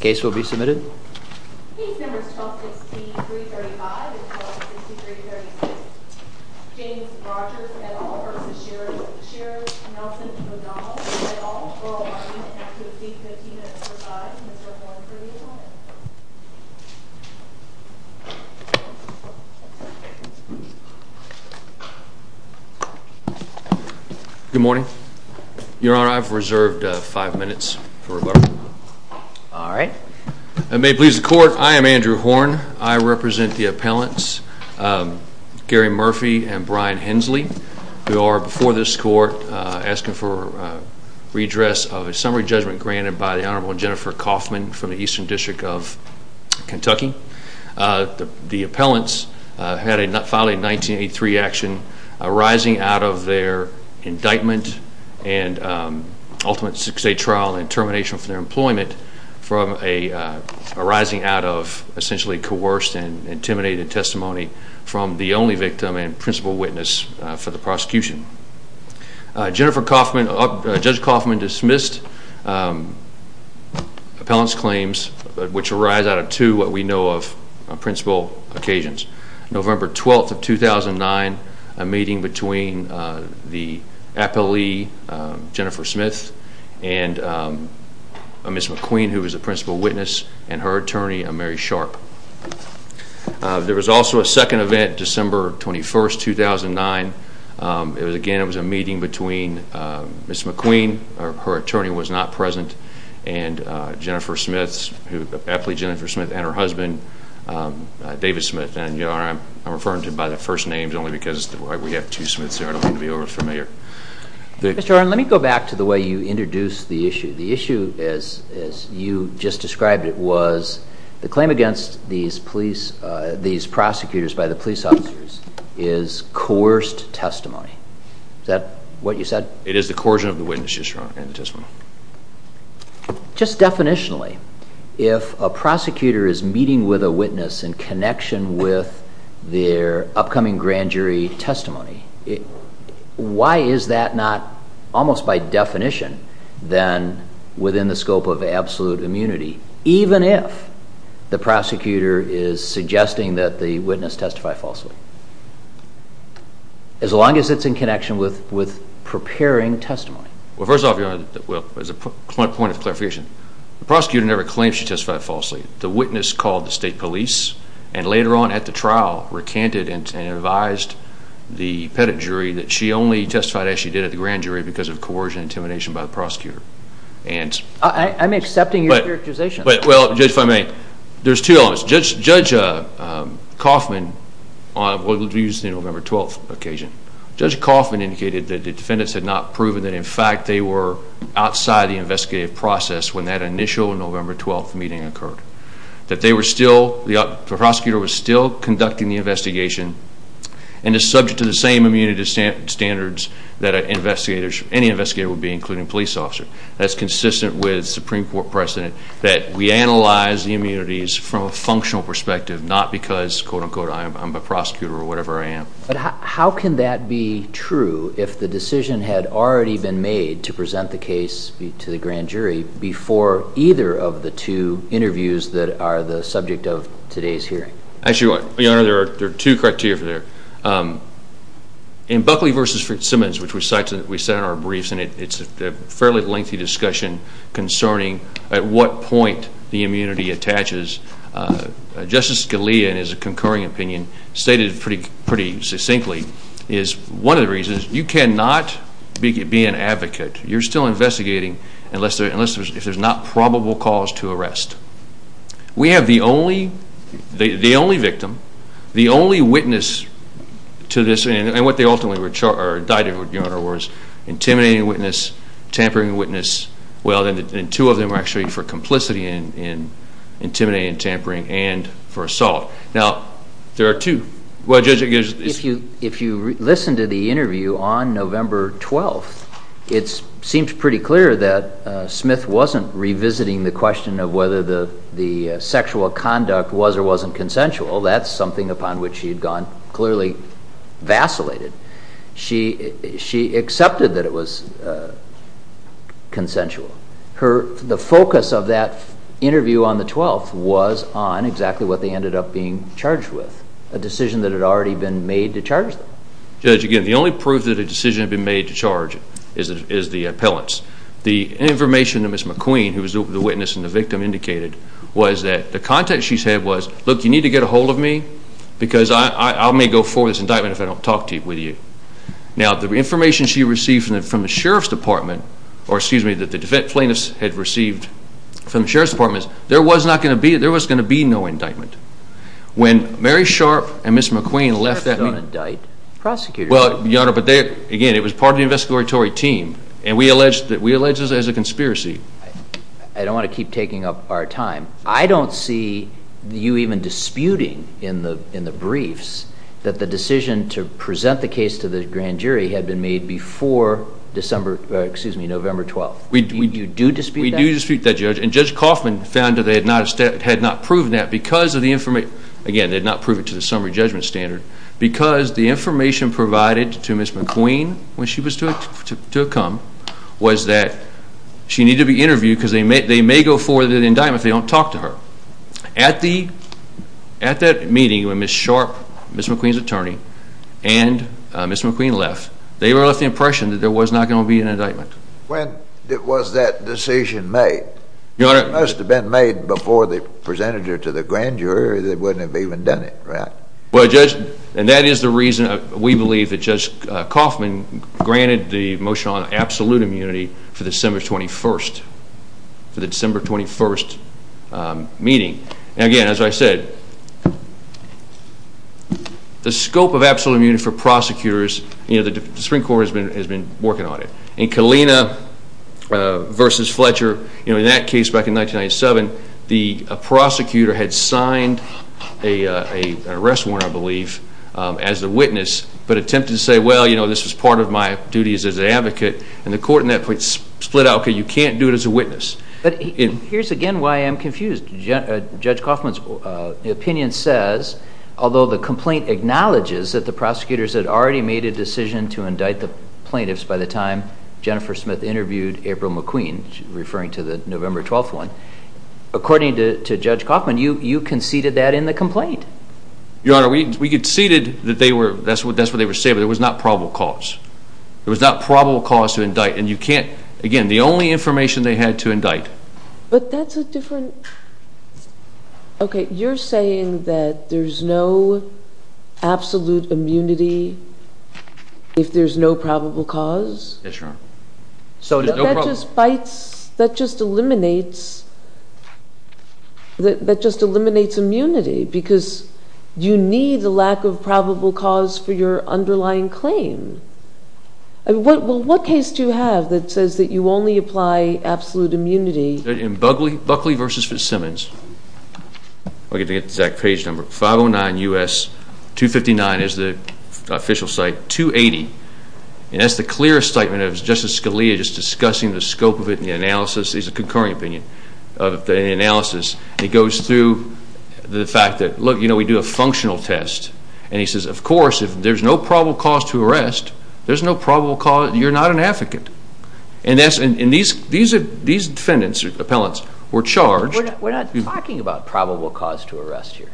Case will be submitted. Case numbers 1263-35 and 1263-36. James Rogers et al. v. Sheriff Nelsono O'Donnell et al. For all items, you will have to leave 15 minutes to provide. Mr. Horn for the appointment. Good morning. Your Honor, I've reserved five minutes for rebuttal. All right. It may please the Court, I am Andrew Horn. I represent the appellants, Gary Murphy and Brian Hensley, who are before this Court asking for redress of a summary judgment granted by the Honorable Jennifer Kaufman from the Eastern District of Kentucky. The appellants filed a 1983 action arising out of their indictment and ultimate six-day trial and termination from their employment arising out of essentially coerced and intimidated testimony from the only victim and principal witness for the prosecution. Judge Kaufman dismissed appellant's claims, which arise out of two what we know of principal occasions. November 12, 2009, a meeting between the appellee, Jennifer Smith, and Ms. McQueen, who was the principal witness, and her attorney, Mary Sharp. There was also a second event, December 21, 2009. Again, it was a meeting between Ms. McQueen, her attorney was not present, and Jennifer Smith, the appellee Jennifer Smith, and her husband, David Smith. Your Honor, I'm referring to by the first names only because we have two Smiths there I don't want to be over-familiar. Mr. Horn, let me go back to the way you introduced the issue. The issue, as you just described it, was the claim against these prosecutors by the police officers is coerced testimony. Is that what you said? It is the coercion of the witness, Your Honor, in the testimony. Just definitionally, if a prosecutor is meeting with a witness in connection with their upcoming grand jury testimony, why is that not almost by definition then within the scope of absolute immunity, even if the prosecutor is suggesting that the witness testified falsely? As long as it's in connection with preparing testimony. Well, first off, Your Honor, as a point of clarification, the prosecutor never claimed she testified falsely. The witness called the state police and later on at the trial recanted and advised the pettit jury that she only testified as she did at the grand jury because of coercion and intimidation by the prosecutor. I'm accepting your characterization. Well, Judge, if I may, there's two elements. Judge Kaufman, we'll use the November 12th occasion, Judge Kaufman indicated that the defendants had not proven that in fact they were outside the investigative process when that initial November 12th meeting occurred. The prosecutor was still conducting the investigation and is subject to the same immunity standards that any investigator would be, including a police officer. That's consistent with Supreme Court precedent that we analyze the immunities from a functional perspective, not because, quote, unquote, I'm a prosecutor or whatever I am. But how can that be true if the decision had already been made to present the case to the grand jury before either of the two interviews that are the subject of today's hearing? Actually, Your Honor, there are two criteria for that. In Buckley v. Simmons, which we cited in our briefs, and it's a fairly lengthy discussion concerning at what point the immunity attaches, Justice Scalia, in his concurring opinion, stated pretty succinctly, is one of the reasons you cannot be an advocate. You're still investigating unless there's not probable cause to arrest. We have the only victim, the only witness to this, and what they ultimately indicted, Your Honor, was intimidating witness, tampering witness. Well, then two of them are actually for complicity in intimidating, tampering, and for assault. Now, there are two. Well, Judge, if you listen to the interview on November 12th, it seems pretty clear that Smith wasn't revisiting the question of whether the sexual conduct was or wasn't consensual. That's something upon which she had gone clearly vacillated. She accepted that it was consensual. The focus of that interview on the 12th was on exactly what they ended up being charged with, a decision that had already been made to charge them. Judge, again, the only proof that a decision had been made to charge is the appellant's. The information that Ms. McQueen, who was the witness and the victim, indicated was that the context she said was, look, you need to get a hold of me because I may go forward with this indictment if I don't talk to you. Now, the information she received from the Sheriff's Department, or excuse me, that the plaintiffs had received from the Sheriff's Department, there was going to be no indictment. When Mary Sharp and Ms. McQueen left that meeting... Sheriff's don't indict prosecutors. Well, Your Honor, but again, it was part of the investigatory team, and we allege this as a conspiracy. I don't want to keep taking up our time. I don't see you even disputing in the briefs that the decision to present the case to the grand jury had been made before November 12th. You do dispute that? We do dispute that, Judge, and Judge Kaufman found that they had not proven that because of the information, again, they had not proved it to the summary judgment standard, because the information provided to Ms. McQueen when she was to come was that she needed to be interviewed because they may go forward with an indictment if they don't talk to her. At that meeting when Ms. Sharp, Ms. McQueen's attorney, and Ms. McQueen left, they left the impression that there was not going to be an indictment. When was that decision made? It must have been made before they presented it to the grand jury, they wouldn't have even done it, right? Well, Judge, and that is the reason we believe that Judge Kaufman granted the motion on absolute immunity for December 21st, for the December 21st meeting. Again, as I said, the scope of absolute immunity for prosecutors, the Supreme Court has been working on it. In Kalina v. Fletcher, in that case back in 1997, the prosecutor had signed an arrest warrant, I believe, as a witness, but attempted to say, well, you know, this is part of my duties as an advocate, and the court in that case split out, okay, you can't do it as a witness. But here's again why I'm confused. Judge Kaufman's opinion says, although the complaint acknowledges that the prosecutors had already made a decision to indict the plaintiffs by the time Jennifer Smith interviewed April McQueen, referring to the November 12th one, according to Judge Kaufman, you conceded that in the complaint. Your Honor, we conceded that they were, that's what they were saying, but it was not probable cause. It was not probable cause to indict, and you can't, again, the only information they had to indict. But that's a different, okay, You're saying that there's no absolute immunity if there's no probable cause? Yes, Your Honor. But that just fights, that just eliminates, that just eliminates immunity because you need the lack of probable cause for your underlying claim. Well, what case do you have that says that you only apply absolute immunity? Buckley v. Fitzsimmons. I'll get the exact page number. 509 U.S. 259 is the official site, 280. And that's the clearest statement of Justice Scalia just discussing the scope of it and the analysis, he's a concurring opinion of the analysis. It goes through the fact that, look, you know, we do a functional test. And he says, of course, if there's no probable cause to arrest, there's no probable cause, you're not an advocate. And these defendants, appellants, were charged. We're not talking about probable cause to arrest here.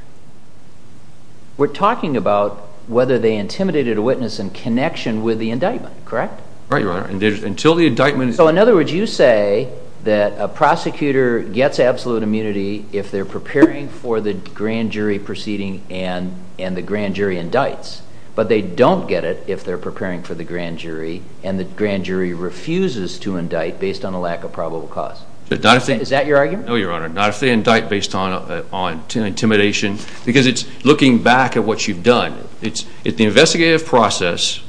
We're talking about whether they intimidated a witness in connection with the indictment, correct? Right, Your Honor. Until the indictment is So, in other words, you say that a prosecutor gets absolute immunity if they're preparing for the grand jury proceeding and the grand jury indicts, but they don't get it if they're preparing for the grand jury and the grand jury refuses to indict based on a lack of probable cause. Is that your argument? No, Your Honor. Not if they indict based on intimidation. Because it's looking back at what you've done. It's the investigative process,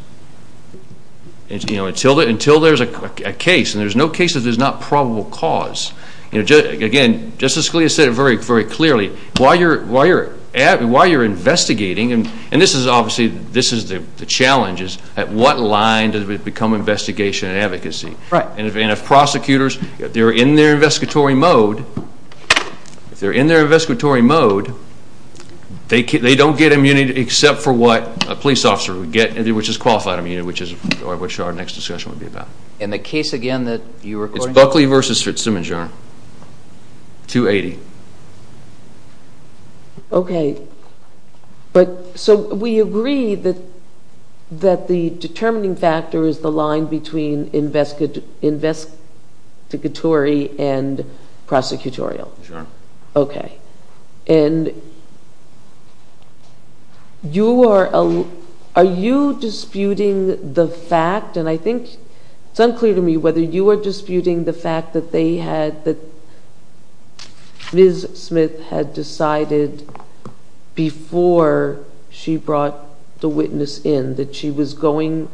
you know, until there's a case. And there's no case if there's not probable cause. Again, Justice Scalia said it very clearly. While you're investigating, and this is obviously, this is the challenge, is at what line does it become investigation and advocacy? Right. And if prosecutors, if they're in their investigatory mode, if they're in their investigatory mode, they don't get immunity except for what a police officer would get, which is qualified immunity, which our next discussion will be about. And the case, again, that you're recording? It's Buckley v. Fitzsimons, Your Honor. 280. Okay. So we agree that the determining factor is the line between investigatory and prosecutorial. Sure. Okay. And are you disputing the fact, and I think it's unclear to me whether you are disputing the fact that they had, that Ms. Smith had decided before she brought the witness in, that she was going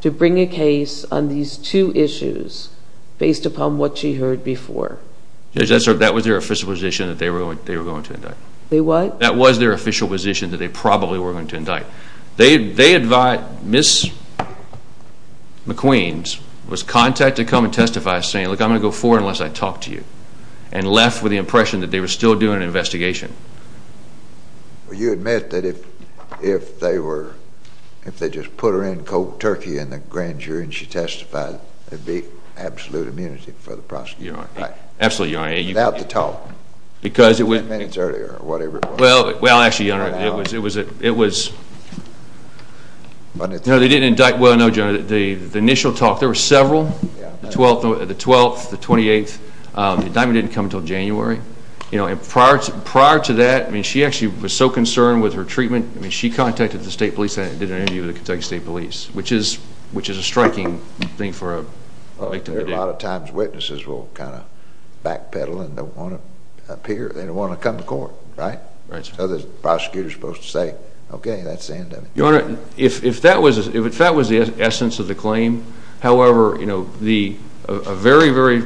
to bring a case on these two issues based upon what she heard before? Judge, that was their official position that they were going to indict. They what? That was their official position that they probably were going to indict. They had, Ms. McQueens was contacted to come and testify saying, look, I'm going to go forward unless I talk to you, and left with the impression that they were still doing an investigation. Well, you admit that if they were, if they just put her in cold turkey in the grand jury and she testified, there'd be absolute immunity for the prosecutor, right? Absolutely, Your Honor. Without the talk, 10 minutes earlier or whatever it was. Well, actually, Your Honor, it was, you know, they didn't indict, well, no, General, the initial talk, there were several, the 12th, the 28th, the indictment didn't come until January. Prior to that, I mean, she actually was so concerned with her treatment, I mean, she contacted the State Police and did an interview with the Kentucky State Police, which is a striking thing for a victim to do. A lot of times witnesses will kind of backpedal and don't want to appear, they don't want to come to court, right? Right, sir. The prosecutor is supposed to say, okay, that's the end of it. Your Honor, if that was the essence of the claim, however, you know, a very, very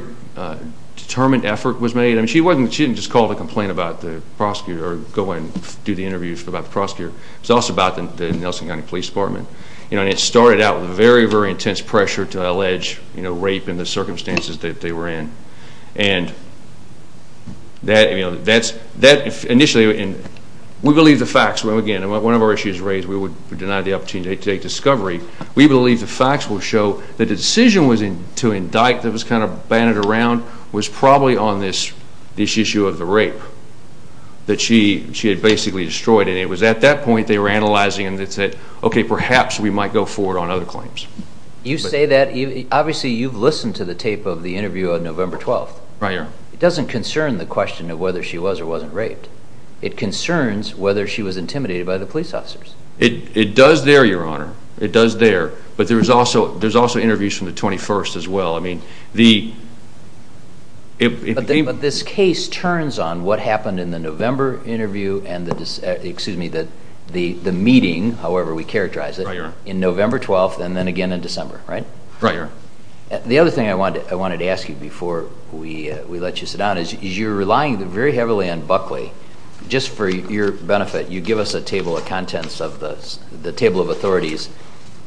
determined effort was made. I mean, she wasn't, she didn't just call to complain about the prosecutor or go in and do the interview about the prosecutor. It was also about the Nelson County Police Department. You know, and it started out with very, very intense pressure to allege, you know, rape in the circumstances that they were in. And that, you know, that initially, we believe the facts. Again, one of our issues raised, we would deny the opportunity to take discovery. We believe the facts will show that the decision to indict that was kind of bandied around was probably on this issue of the rape that she had basically destroyed. And it was at that point they were analyzing and they said, okay, perhaps we might go forward on other claims. You say that, obviously you've listened to the tape of the interview on November 12th. Right, Your Honor. It doesn't concern the question of whether she was or wasn't raped. It concerns whether she was intimidated by the police officers. It does there, Your Honor. It does there. But there's also interviews from the 21st as well. But this case turns on what happened in the November interview and the, excuse me, the meeting, however we characterize it, in November 12th and then again in December, right? Right, Your Honor. The other thing I wanted to ask you before we let you sit down is you're relying very heavily on Buckley. Just for your benefit, you give us a table of contents of the table of authorities.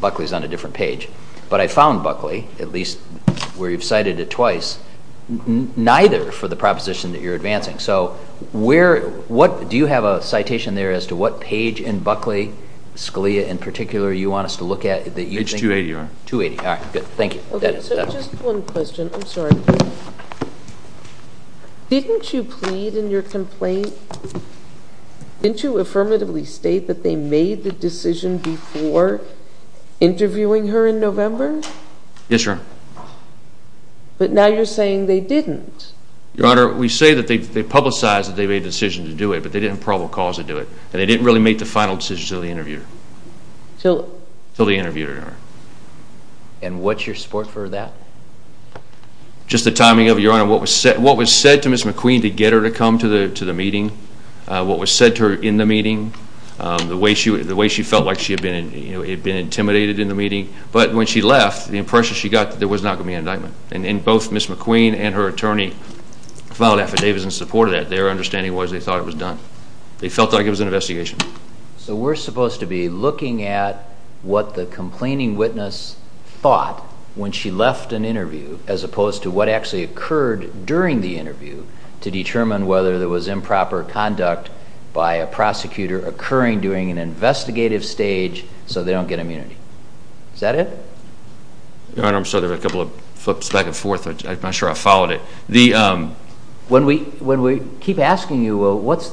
Buckley's on a different page. But I found Buckley, at least where you've cited it twice, neither for the proposition that you're advancing. Do you have a citation there as to what page in Buckley, Scalia in particular, you want us to look at? It's 280, Your Honor. 280. All right, good. Thank you. Just one question. I'm sorry. Didn't you plead in your complaint, didn't you affirmatively state that they made the decision before interviewing her in November? Yes, Your Honor. But now you're saying they didn't. Your Honor, we say that they publicized that they made the decision to do it, but they didn't have probable cause to do it. And they didn't really make the final decision until they interviewed her. Until they interviewed her, Your Honor. And what's your support for that? Just the timing of it, Your Honor. What was said to Ms. McQueen to get her to come to the meeting, what was said to her in the meeting, the way she felt like she had been intimidated in the meeting. But when she left, the impression she got that there was not going to be an indictment. And both Ms. McQueen and her attorney filed affidavits in support of that. Their understanding was they thought it was done. They felt like it was an investigation. So we're supposed to be looking at what the complaining witness thought when she left an interview as opposed to what actually occurred during the interview to determine whether there was improper conduct by a prosecutor occurring during an investigative stage so they don't get immunity. Is that it? Your Honor, I'm sorry. There were a couple of flips back and forth. I'm not sure I followed it. When we keep asking you, well, what's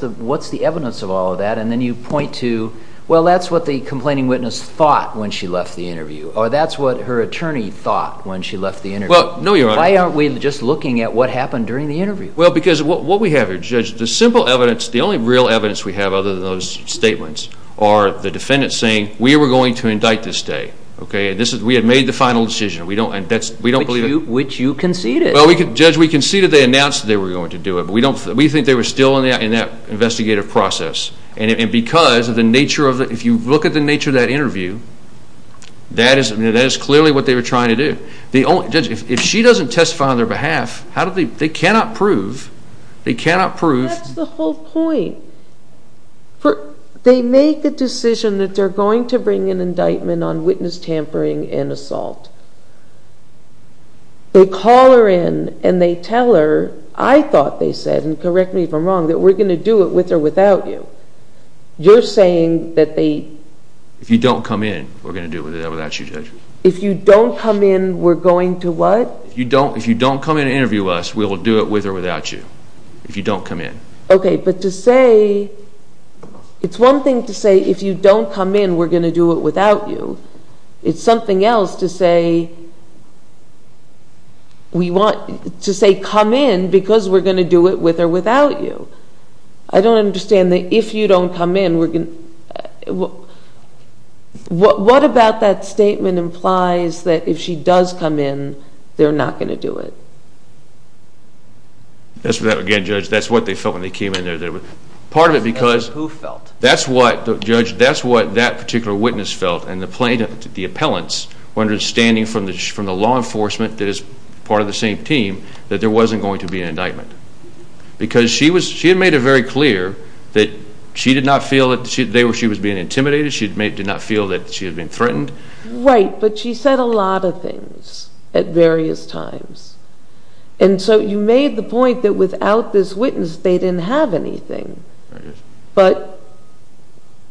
the evidence of all of that? And then you point to, well, that's what the complaining witness thought when she left the interview. Or that's what her attorney thought when she left the interview. Well, no, Your Honor. Why aren't we just looking at what happened during the interview? Well, because what we have here, Judge, the simple evidence, the only real evidence we have other than those statements are the defendant saying, we were going to indict this day. Okay? We had made the final decision. We don't believe that. Which you conceded. Well, Judge, we conceded they announced they were going to do it. We think they were still in that investigative process. And because of the nature of the, if you look at the nature of that interview, that is clearly what they were trying to do. Judge, if she doesn't testify on their behalf, they cannot prove, they cannot prove. That's the whole point. They make the decision that they're going to bring an indictment on witness tampering and assault. They call her in and they tell her, I thought they said, and correct me if I'm wrong, that we're going to do it with or without you. You're saying that they... If you don't come in, we're going to do it without you, Judge. If you don't come in, we're going to what? If you don't come in and interview us, we'll do it with or without you. If you don't come in. Okay, but to say, it's one thing to say, if you don't come in, we're going to do it without you. It's something else to say, we want to say come in because we're going to do it with or without you. I don't understand the if you don't come in, we're going to... What about that statement implies that if she does come in, they're not going to do it? That's what, again, Judge, that's what they felt when they came in there. Part of it because... Who felt? That's what, Judge, that's what that particular witness felt and the plaintiff, the appellants, were understanding from the law enforcement that is part of the same team that there wasn't going to be an indictment because she had made it very clear that she did not feel that she was being intimidated. She did not feel that she was being threatened. Right, but she said a lot of things at various times. And so you made the point that without this witness, they didn't have anything. But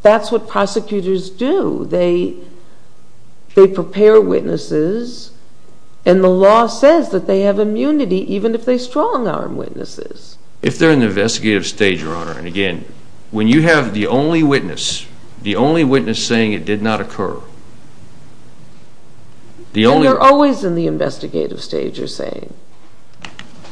that's what prosecutors do. They prepare witnesses and the law says that they have immunity even if they strong-arm witnesses. If they're in the investigative stage, Your Honor, and again, when you have the only witness, the only witness saying it did not occur, the only... And they're always in the investigative stage, you're saying.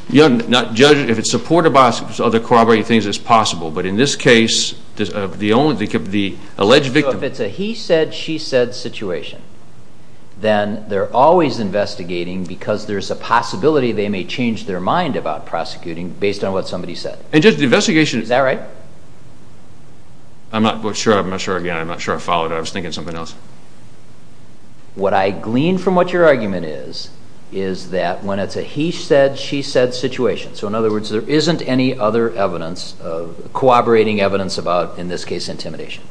Your Honor, Judge, if it's supported by other corroborating things, it's possible. But in this case, the only... the alleged victim... So if it's a he said, she said situation, then they're always investigating because there's a possibility they may change their mind about prosecuting based on what somebody said. And, Judge, the investigation... Is that right? I'm not sure. I'm not sure again. I'm not sure I followed it. I was thinking something else. What I glean from what your argument is, is that when it's a he said, she said situation. So in other words, there isn't any other evidence, corroborating evidence about, in this case, intimidation.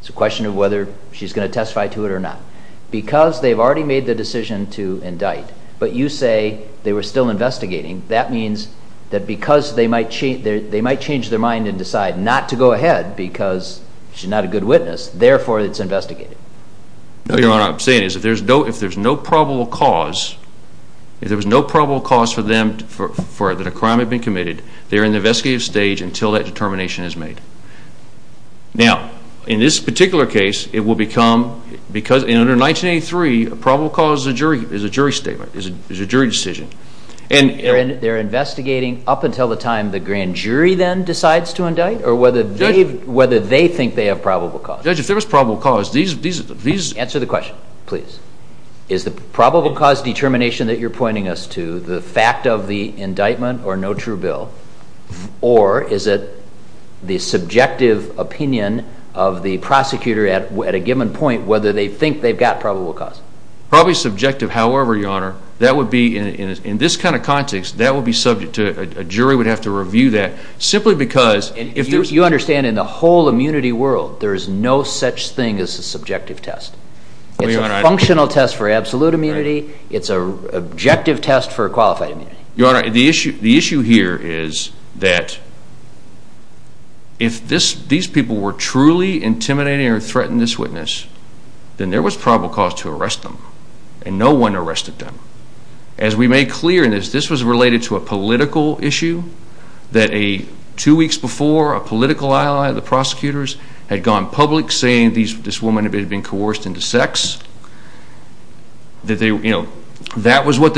It's a question of whether she's going to testify to it or not. Because they've already made the decision to indict, but you say they were still investigating, that means that because they might change their mind and decide not to go ahead because she's not a good witness, therefore it's investigated. No, Your Honor, what I'm saying is if there's no probable cause, if there was no probable cause for them that a crime had been committed, they're in the investigative stage until that determination is made. Now, in this particular case, it will become... because under 1983, a probable cause is a jury statement, is a jury decision. And they're investigating up until the time the grand jury then decides to indict or whether they think they have probable cause. Judge, if there was probable cause, these... Answer the question, please. Is the probable cause determination that you're pointing us to the fact of the indictment or no true bill, or is it the subjective opinion of the prosecutor at a given point whether they think they've got probable cause? Probably subjective, however, Your Honor, that would be... In this kind of context, that would be subject to... A jury would have to review that simply because... You understand in the whole immunity world, there is no such thing as a subjective test. It's a functional test for absolute immunity. It's an objective test for qualified immunity. Your Honor, the issue here is that if these people were truly intimidating or threatened this witness, then there was probable cause to arrest them, and no one arrested them. As we made clear in this, this was related to a political issue that two weeks before a political ally of the prosecutors had gone public saying this woman had been coerced into sex. That was what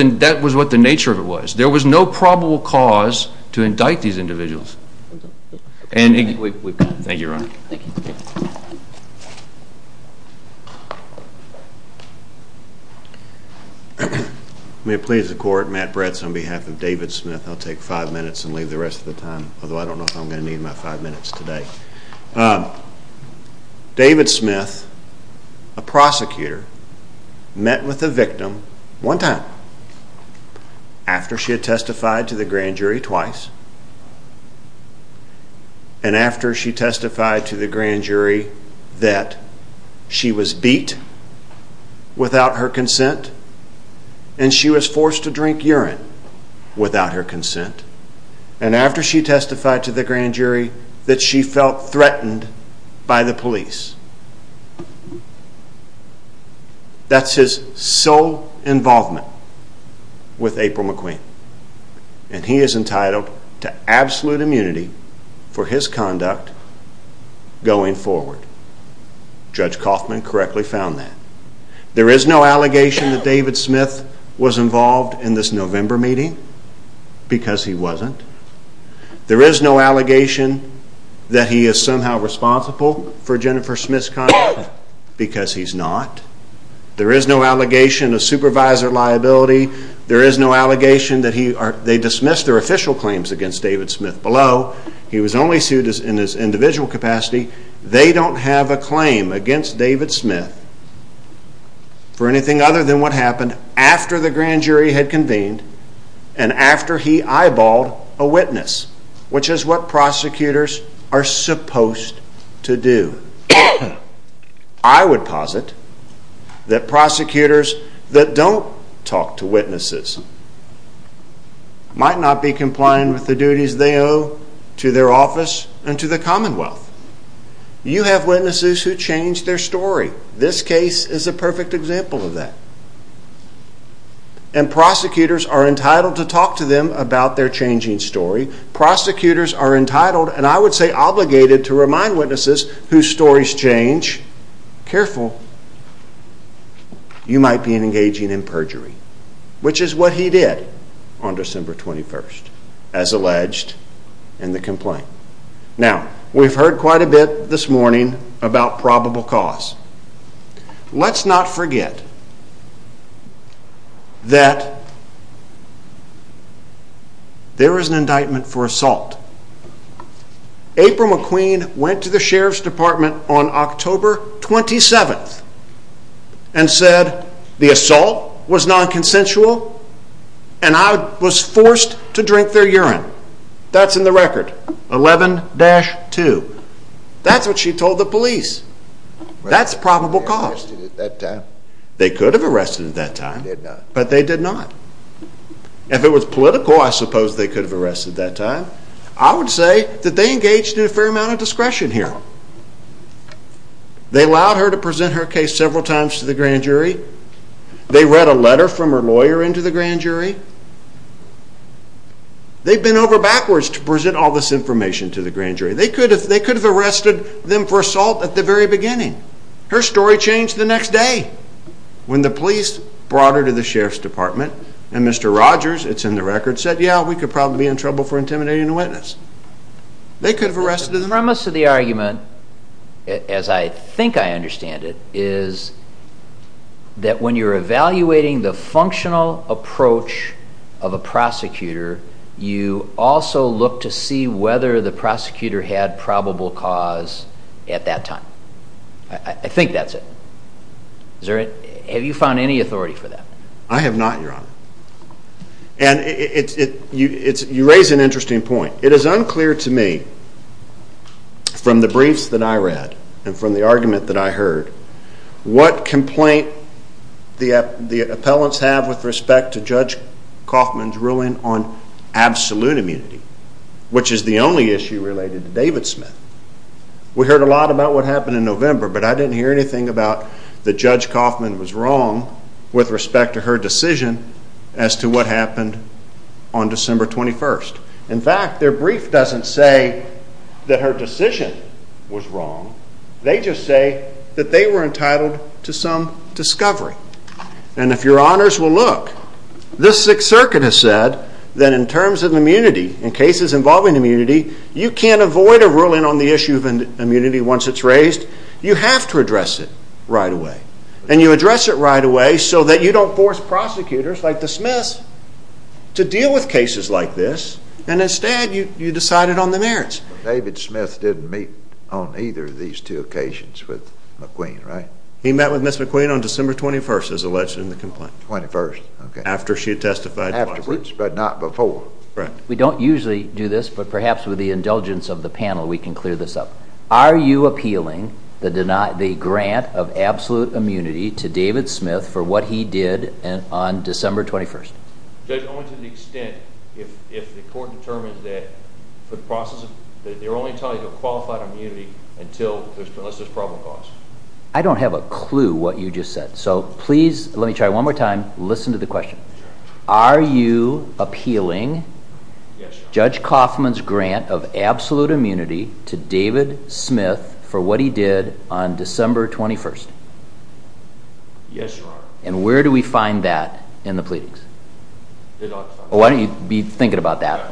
the nature of it was. There was no probable cause to indict these individuals. Thank you, Your Honor. May it please the Court, Matt Bretts on behalf of David Smith. I'll take five minutes and leave the rest of the time, although I don't know if I'm going to need my five minutes today. David Smith, a prosecutor, met with a victim one time after she had testified to the grand jury twice and after she testified to the grand jury that she was beat without her consent and she was forced to drink urine without her consent and after she testified to the grand jury that she felt threatened by the police. That's his sole involvement with April McQueen and he is entitled to absolute immunity for his conduct going forward. Judge Kaufman correctly found that. There is no allegation that David Smith was involved in this November meeting because he wasn't. There is no allegation that he is somehow responsible for Jennifer Smith's conduct because he's not. There is no allegation of supervisor liability. There is no allegation that they dismissed their official claims against David Smith. Below, he was only sued in his individual capacity. They don't have a claim against David Smith for anything other than what happened after the grand jury had convened and after he eyeballed a witness, which is what prosecutors are supposed to do. I would posit that prosecutors that don't talk to witnesses might not be compliant with the duties they owe to their office and to the Commonwealth. You have witnesses who change their story. This case is a perfect example of that. And prosecutors are entitled to talk to them about their changing story. Prosecutors are entitled, and I would say obligated, to remind witnesses whose stories change, careful, you might be engaging in perjury, which is what he did on December 21st, as alleged in the complaint. Now, we've heard quite a bit this morning about probable cause. Let's not forget that there is an indictment for assault. April McQueen went to the Sheriff's Department on October 27th and said the assault was non-consensual and I was forced to drink their urine. That's in the record, 11-2. That's what she told the police. That's probable cause. They could have arrested at that time, but they did not. If it was political, I suppose they could have arrested at that time. I would say that they engaged in a fair amount of discretion here. They allowed her to present her case several times to the grand jury. They read a letter from her lawyer into the grand jury. They could have arrested them for assault at the very beginning. Her story changed the next day when the police brought her to the Sheriff's Department and Mr. Rogers, it's in the record, said, yeah, we could probably be in trouble for intimidating a witness. They could have arrested them. The premise of the argument, as I think I understand it, is that when you're evaluating the functional approach of a prosecutor, you also look to see whether the prosecutor had probable cause at that time. I think that's it. Have you found any authority for that? I have not, Your Honor. And you raise an interesting point. It is unclear to me from the briefs that I read and from the argument that I heard what complaint the appellants have with respect to Judge Kaufman's ruling on absolute immunity, which is the only issue related to David Smith. We heard a lot about what happened in November, but I didn't hear anything about that Judge Kaufman was wrong with respect to her decision as to what happened on December 21st. In fact, their brief doesn't say that her decision was wrong. They just say that they were entitled to some discovery. And if Your Honors will look, this Sixth Circuit has said that in terms of immunity, in cases involving immunity, you can't avoid a ruling on the issue of immunity once it's raised. You have to address it right away. And you address it right away so that you don't force prosecutors like the Smiths to deal with cases like this, and instead you decide it on the merits. David Smith didn't meet on either of these two occasions with McQueen, right? He met with Ms. McQueen on December 21st, as alleged in the complaint. 21st. After she testified twice. But not before. Right. We don't usually do this, but perhaps with the indulgence of the panel we can clear this up. Are you appealing the grant of absolute immunity to David Smith for what he did on December 21st? Judge, only to the extent if the court determines that they're only entitled to qualified immunity unless there's probable cause. I don't have a clue what you just said. So please let me try one more time. Listen to the question. Are you appealing Judge Kaufman's grant of absolute immunity to David Smith for what he did on December 21st? Yes, Your Honor. And where do we find that in the pleadings? Why don't you be thinking about that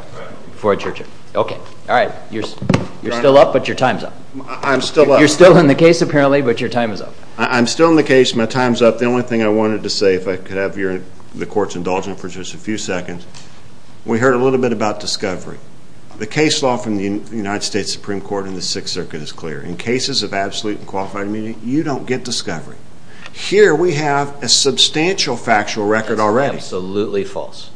before I judge you. Okay. All right. You're still up, but your time's up. I'm still up. You're still in the case, apparently, but your time is up. I'm still in the case. My time's up. The only thing I wanted to say, if I could have the Court's indulgence for just a few seconds, we heard a little bit about discovery. The case law from the United States Supreme Court in the Sixth Circuit is clear. In cases of absolute and qualified immunity, you don't get discovery. Here we have a substantial factual record already. Absolutely false.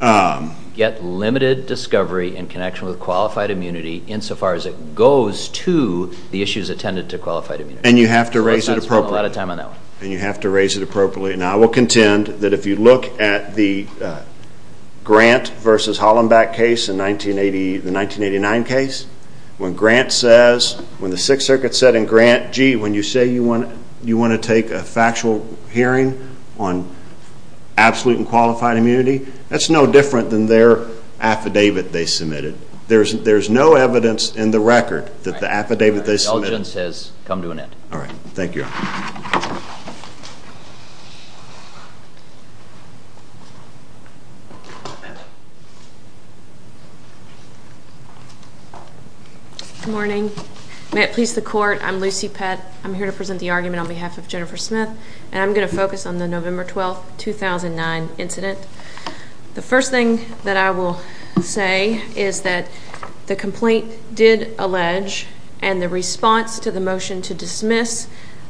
Yet limited discovery in connection with qualified immunity insofar as it goes to the issues attended to qualified immunity. And you have to raise it appropriately. I spent a lot of time on that one. And you have to raise it appropriately. And I will contend that if you look at the Grant v. Hollenbeck case, the 1989 case, when Grant says, when the Sixth Circuit said in Grant, gee, when you say you want to take a factual hearing on absolute and qualified immunity, that's no different than their affidavit they submitted. There's no evidence in the record that the affidavit they submitted has come to an end. All right. Thank you. Good morning. May it please the Court, I'm Lucy Pett. I'm here to present the argument on behalf of Jennifer Smith, and I'm going to focus on the November 12, 2009 incident. The first thing that I will say is that the complaint did allege and the response to the motion to dismiss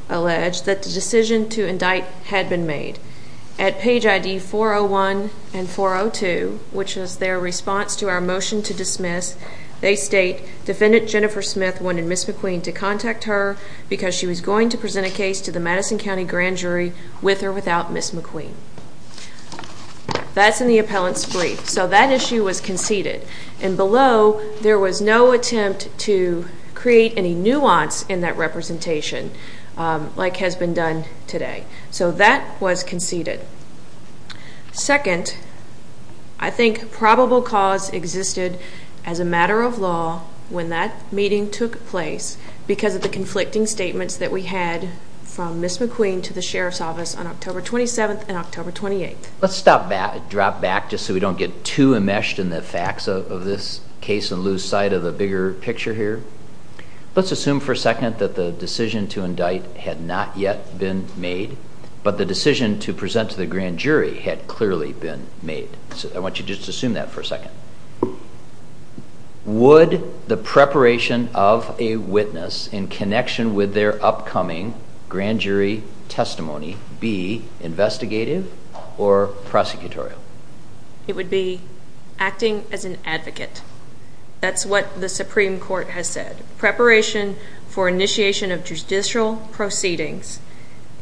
allege that the decision to indict had been made. At page ID 401 and 402, which is their response to our motion to dismiss, they state, Defendant Jennifer Smith wanted Ms. McQueen to contact her because she was going to present a case to the Madison County Grand Jury with or without Ms. McQueen. That's in the appellant's brief. So that issue was conceded. And below, there was no attempt to create any nuance in that representation like has been done today. So that was conceded. Second, I think probable cause existed as a matter of law when that meeting took place because of the conflicting statements that we had from Ms. McQueen to the Sheriff's Office on October 27th and October 28th. Let's drop back just so we don't get too enmeshed in the facts of this case and lose sight of the bigger picture here. Let's assume for a second that the decision to indict had not yet been made, but the decision to present to the Grand Jury had clearly been made. I want you to just assume that for a second. Would the preparation of a witness in connection with their upcoming Grand Jury testimony be investigative or prosecutorial? It would be acting as an advocate. That's what the Supreme Court has said. Preparation for initiation of judicial proceedings,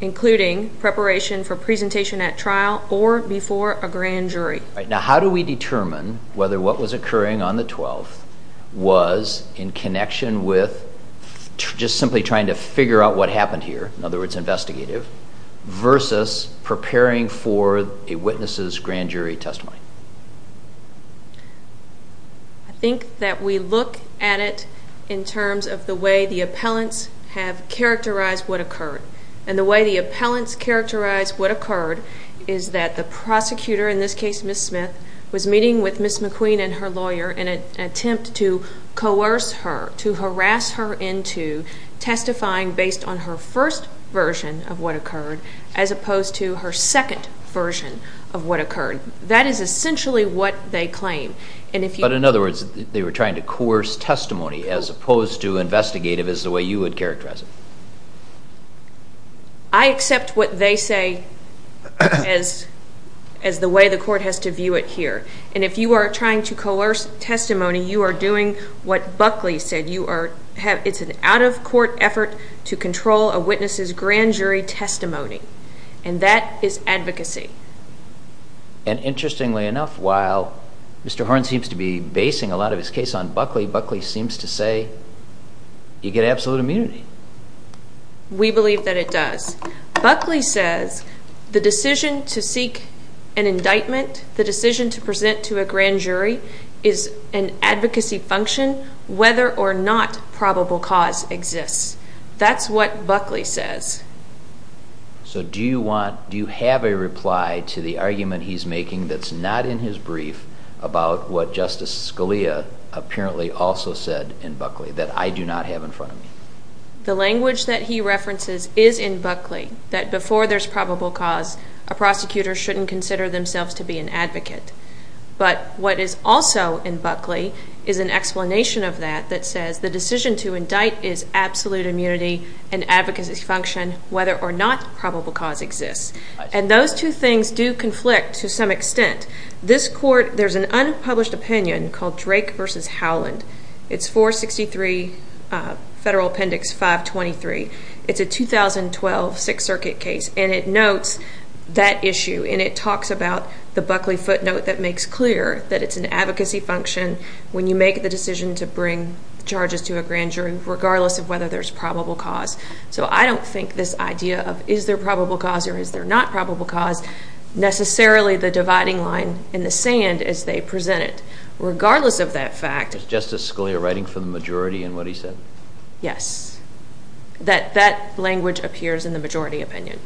including preparation for presentation at trial or before a Grand Jury. Now how do we determine whether what was occurring on the 12th was in connection with just simply trying to figure out what happened here, in other words investigative, versus preparing for a witness's Grand Jury testimony? I think that we look at it in terms of the way the appellants have characterized what occurred. And the way the appellants characterized what occurred is that the prosecutor, in this case Ms. Smith, was meeting with Ms. McQueen and her lawyer in an attempt to coerce her, to harass her into testifying based on her first version of what occurred as opposed to her second version of what occurred. That is essentially what they claim. But in other words, they were trying to coerce testimony as opposed to investigative as the way you would characterize it. I accept what they say as the way the court has to view it here. And if you are trying to coerce testimony, you are doing what Buckley said. It's an out-of-court effort to control a witness's Grand Jury testimony. And that is advocacy. And interestingly enough, while Mr. Horne seems to be basing a lot of his case on Buckley, Buckley seems to say you get absolute immunity. We believe that it does. Buckley says the decision to seek an indictment, the decision to present to a Grand Jury, is an advocacy function whether or not probable cause exists. That's what Buckley says. So do you have a reply to the argument he's making that's not in his brief about what Justice Scalia apparently also said in Buckley that I do not have in front of me? The language that he references is in Buckley that before there's probable cause, a prosecutor shouldn't consider themselves to be an advocate. But what is also in Buckley is an explanation of that that says the decision to indict is absolute immunity, an advocacy function, whether or not probable cause exists. And those two things do conflict to some extent. There's an unpublished opinion called Drake v. Howland. It's 463 Federal Appendix 523. It's a 2012 Sixth Circuit case, and it notes that issue, and it talks about the Buckley footnote that makes clear that it's an advocacy function when you make the decision to bring charges to a Grand Jury regardless of whether there's probable cause. So I don't think this idea of is there probable cause or is there not probable cause necessarily the dividing line in the sand as they present it. Regardless of that fact. Was Justice Scalia writing for the majority in what he said? Yes. That language appears in the majority opinion.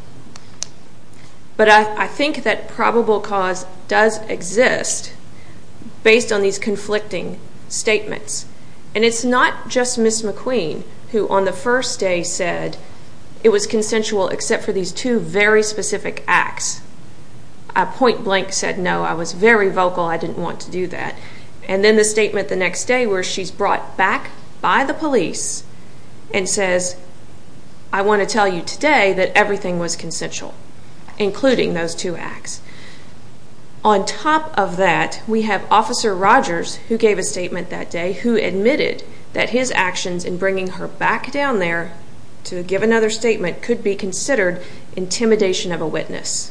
But I think that probable cause does exist based on these conflicting statements. And it's not just Ms. McQueen who on the first day said it was consensual except for these two very specific acts. A point blank said, no, I was very vocal. I didn't want to do that. And then the statement the next day where she's brought back by the police and says, I want to tell you today that everything was consensual, including those two acts. On top of that, we have Officer Rogers, who gave a statement that day, who admitted that his actions in bringing her back down there to give another statement that could be considered intimidation of a witness.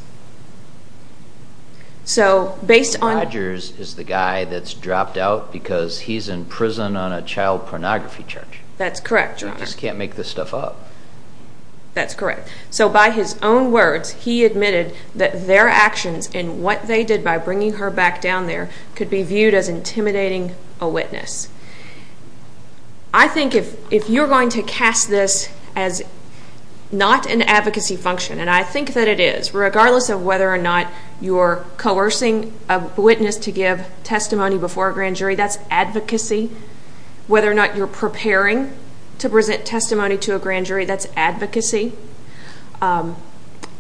So based on the- Rogers is the guy that's dropped out because he's in prison on a child pornography charge. That's correct, Your Honor. You just can't make this stuff up. That's correct. So by his own words, he admitted that their actions and what they did by bringing her back down there could be viewed as intimidating a witness. I think if you're going to cast this as not an advocacy function, and I think that it is, regardless of whether or not you're coercing a witness to give testimony before a grand jury, that's advocacy. Whether or not you're preparing to present testimony to a grand jury, that's advocacy.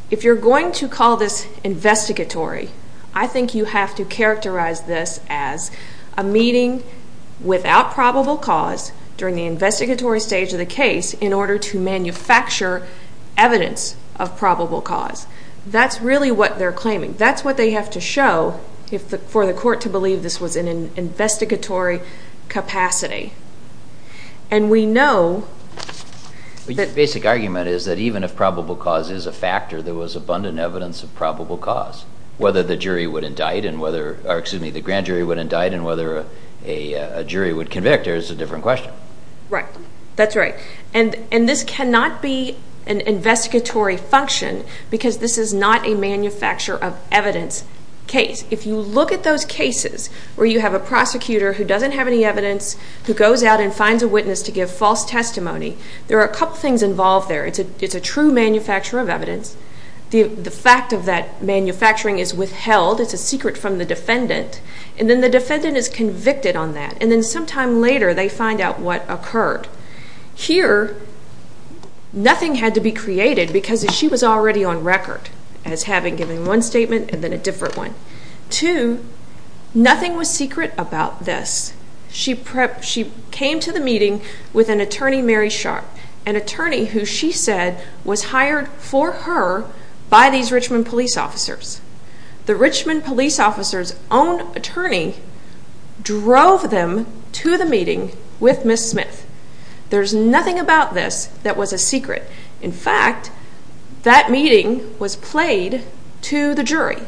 If you're going to call this investigatory, I think you have to characterize this as a meeting without probable cause during the investigatory stage of the case in order to manufacture evidence of probable cause. That's really what they're claiming. That's what they have to show for the court to believe this was in an investigatory capacity. And we know that- Your basic argument is that even if probable cause is a factor, there was abundant evidence of probable cause. Whether the grand jury would indict and whether a jury would convict is a different question. Right. That's right. And this cannot be an investigatory function because this is not a manufacture of evidence case. If you look at those cases where you have a prosecutor who doesn't have any evidence who goes out and finds a witness to give false testimony, there are a couple things involved there. It's a true manufacture of evidence. The fact of that manufacturing is withheld. It's a secret from the defendant. And then the defendant is convicted on that. And then sometime later they find out what occurred. Here, nothing had to be created because she was already on record as having given one statement and then a different one. Two, nothing was secret about this. She came to the meeting with an attorney, Mary Sharp, an attorney who she said was hired for her by these Richmond police officers. The Richmond police officers' own attorney drove them to the meeting with Ms. Smith. There's nothing about this that was a secret. In fact, that meeting was played to the jury.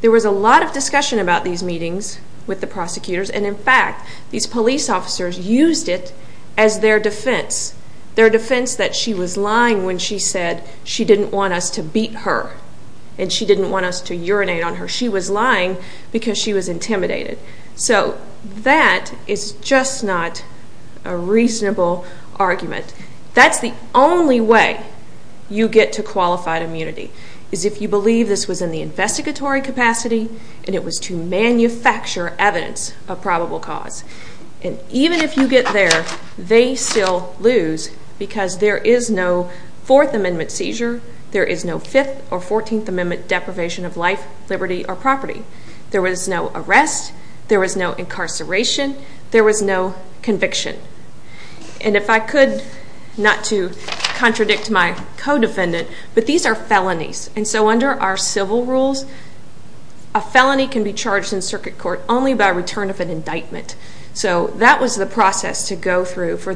There was a lot of discussion about these meetings with the prosecutors, and, in fact, these police officers used it as their defense, their defense that she was lying when she said she didn't want us to beat her and she didn't want us to urinate on her. She was lying because she was intimidated. So that is just not a reasonable argument. That's the only way you get to qualified immunity, is if you believe this was in the investigatory capacity and it was to manufacture evidence of probable cause. Even if you get there, they still lose because there is no Fourth Amendment seizure. There is no Fifth or Fourteenth Amendment deprivation of life, liberty, or property. There was no arrest. There was no incarceration. There was no conviction. If I could not to contradict my co-defendant, but these are felonies. And so under our civil rules, a felony can be charged in circuit court only by return of an indictment. So that was the process to go through for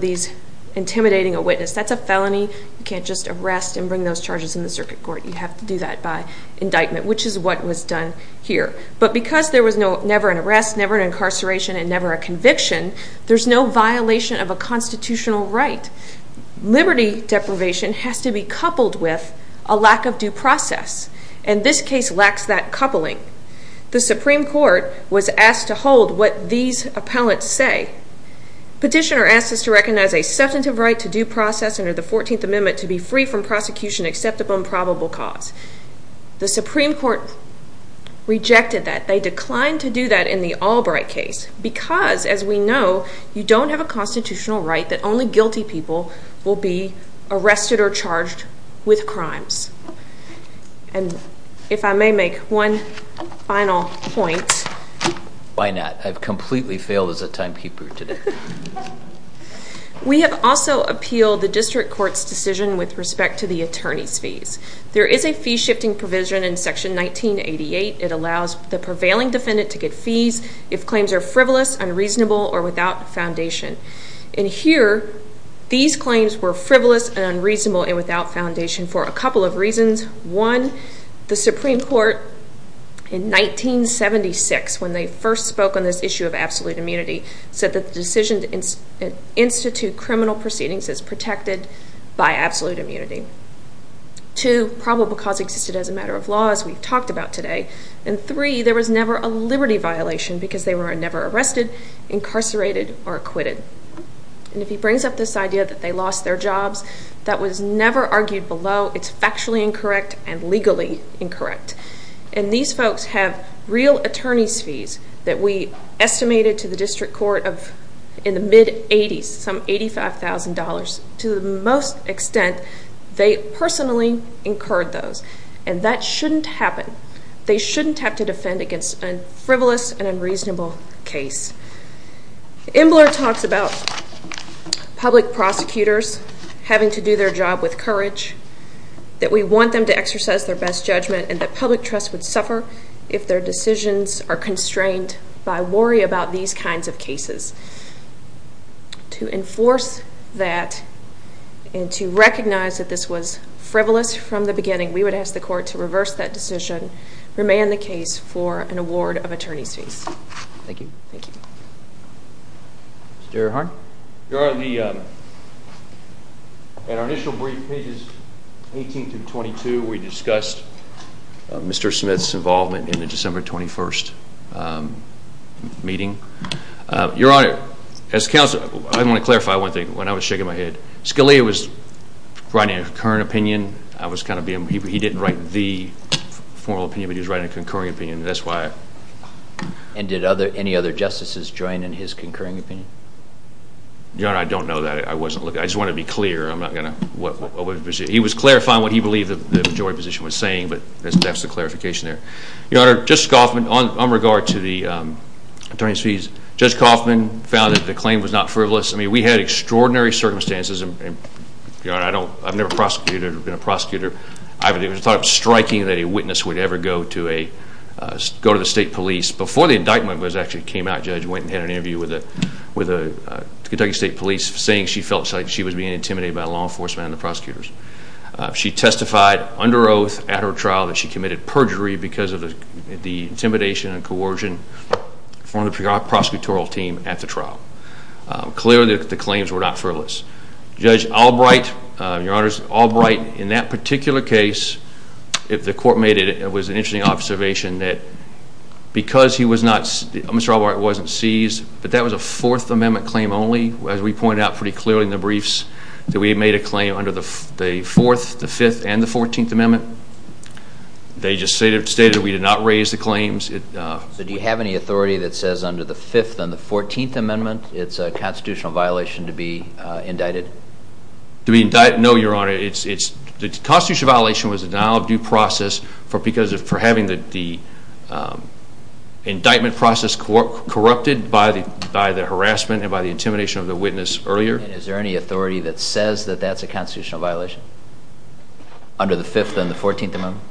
intimidating a witness. That's a felony. You can't just arrest and bring those charges in the circuit court. You have to do that by indictment, which is what was done here. But because there was never an arrest, never an incarceration, and never a conviction, there's no violation of a constitutional right. Liberty deprivation has to be coupled with a lack of due process, and this case lacks that coupling. The Supreme Court was asked to hold what these appellants say. Petitioner asked us to recognize a substantive right to due process under the Fourteenth Amendment to be free from prosecution except upon probable cause. The Supreme Court rejected that. They declined to do that in the Albright case because, as we know, you don't have a constitutional right that only guilty people will be arrested or charged with crimes. And if I may make one final point. Why not? I've completely failed as a timekeeper today. We have also appealed the district court's decision with respect to the attorney's fees. There is a fee-shifting provision in Section 1988. It allows the prevailing defendant to get fees if claims are frivolous, unreasonable, or without foundation. And here, these claims were frivolous and unreasonable and without foundation for a couple of reasons. One, the Supreme Court in 1976, when they first spoke on this issue of absolute immunity, said that the decision to institute criminal proceedings is protected by absolute immunity. Two, probable cause existed as a matter of law, as we've talked about today. And three, there was never a liberty violation because they were never arrested, incarcerated, or acquitted. And if he brings up this idea that they lost their jobs, that was never argued below. It's factually incorrect and legally incorrect. And these folks have real attorney's fees that we estimated to the district court in the mid-'80s, some $85,000. To the most extent, they personally incurred those. And that shouldn't happen. They shouldn't have to defend against a frivolous and unreasonable case. Embler talks about public prosecutors having to do their job with courage, that we want them to exercise their best judgment, and that public trust would suffer if their decisions are constrained by worry about these kinds of cases. To enforce that and to recognize that this was frivolous from the beginning, we would ask the court to reverse that decision, remand the case for an award of attorney's fees. Thank you. Thank you. Mr. Earhardt? Your Honor, at our initial brief, pages 18 through 22, we discussed Mr. Smith's involvement in the December 21st meeting. Your Honor, as counsel, I want to clarify one thing. When I was shaking my head, Scalia was writing a current opinion. He didn't write the formal opinion, but he was writing a concurring opinion, and that's why. And did any other justices join in his concurring opinion? Your Honor, I don't know that. I just want to be clear. He was clarifying what he believed the majority position was saying, but that's the clarification there. Your Honor, Judge Coffman, on regard to the attorney's fees, Judge Coffman found that the claim was not frivolous. I mean, we had extraordinary circumstances, and, Your Honor, I've never been a prosecutor. It was striking that a witness would ever go to the state police. Before the indictment actually came out, Judge went and had an interview with the Kentucky State Police, saying she felt like she was being intimidated by law enforcement and the prosecutors. She testified under oath at her trial that she committed perjury because of the intimidation and coercion from the prosecutorial team at the trial. Clearly, the claims were not frivolous. Judge Albright, Your Honor, Albright, in that particular case, if the court made it, it was an interesting observation that because he was not, Mr. Albright wasn't seized, but that was a Fourth Amendment claim only. As we pointed out pretty clearly in the briefs, that we made a claim under the Fourth, the Fifth, and the Fourteenth Amendment. They just stated we did not raise the claims. Do you have any authority that says under the Fifth and the Fourteenth Amendment it's a constitutional violation to be indicted? To be indicted? No, Your Honor. The constitutional violation was a denial of due process for having the indictment process corrupted by the harassment and by the intimidation of the witness earlier. Is there any authority that says that that's a constitutional violation under the Fifth and the Fourteenth Amendment?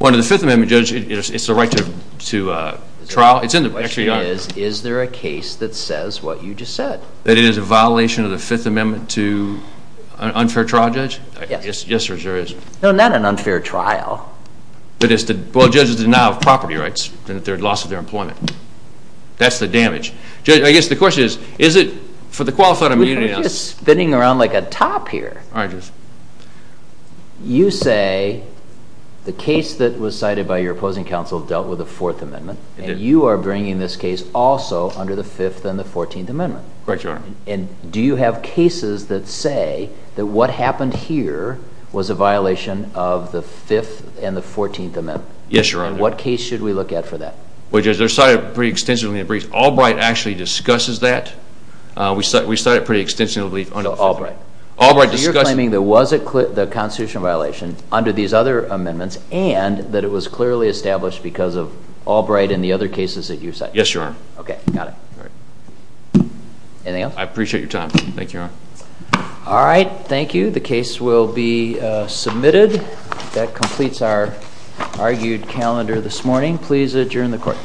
Under the Fifth Amendment, Judge, it's a right to trial. The question is, is there a case that says what you just said? That it is a violation of the Fifth Amendment to an unfair trial, Judge? Yes. Yes, there is. No, not an unfair trial. But it's the judges' denial of property rights and their loss of their employment. That's the damage. Judge, I guess the question is, is it for the qualified immunity? We're kind of just spinning around like a top here. All right, Judge. You say the case that was cited by your opposing counsel dealt with the Fourth Amendment, and you are bringing this case also under the Fifth and the Fourteenth Amendment. Correct, Your Honor. And do you have cases that say that what happened here was a violation of the Fifth and the Fourteenth Amendment? Yes, Your Honor. And what case should we look at for that? Well, Judge, they're cited pretty extensively in the brief. Albright actually discusses that. We cite it pretty extensively under the Fifth Amendment. Albright discusses it. So you're claiming that it was a constitutional violation under these other amendments and that it was clearly established because of Albright and the other cases that you cite. Yes, Your Honor. Okay, got it. Anything else? I appreciate your time. Thank you, Your Honor. All right, thank you. The case will be submitted. That completes our argued calendar this morning. Please adjourn the court.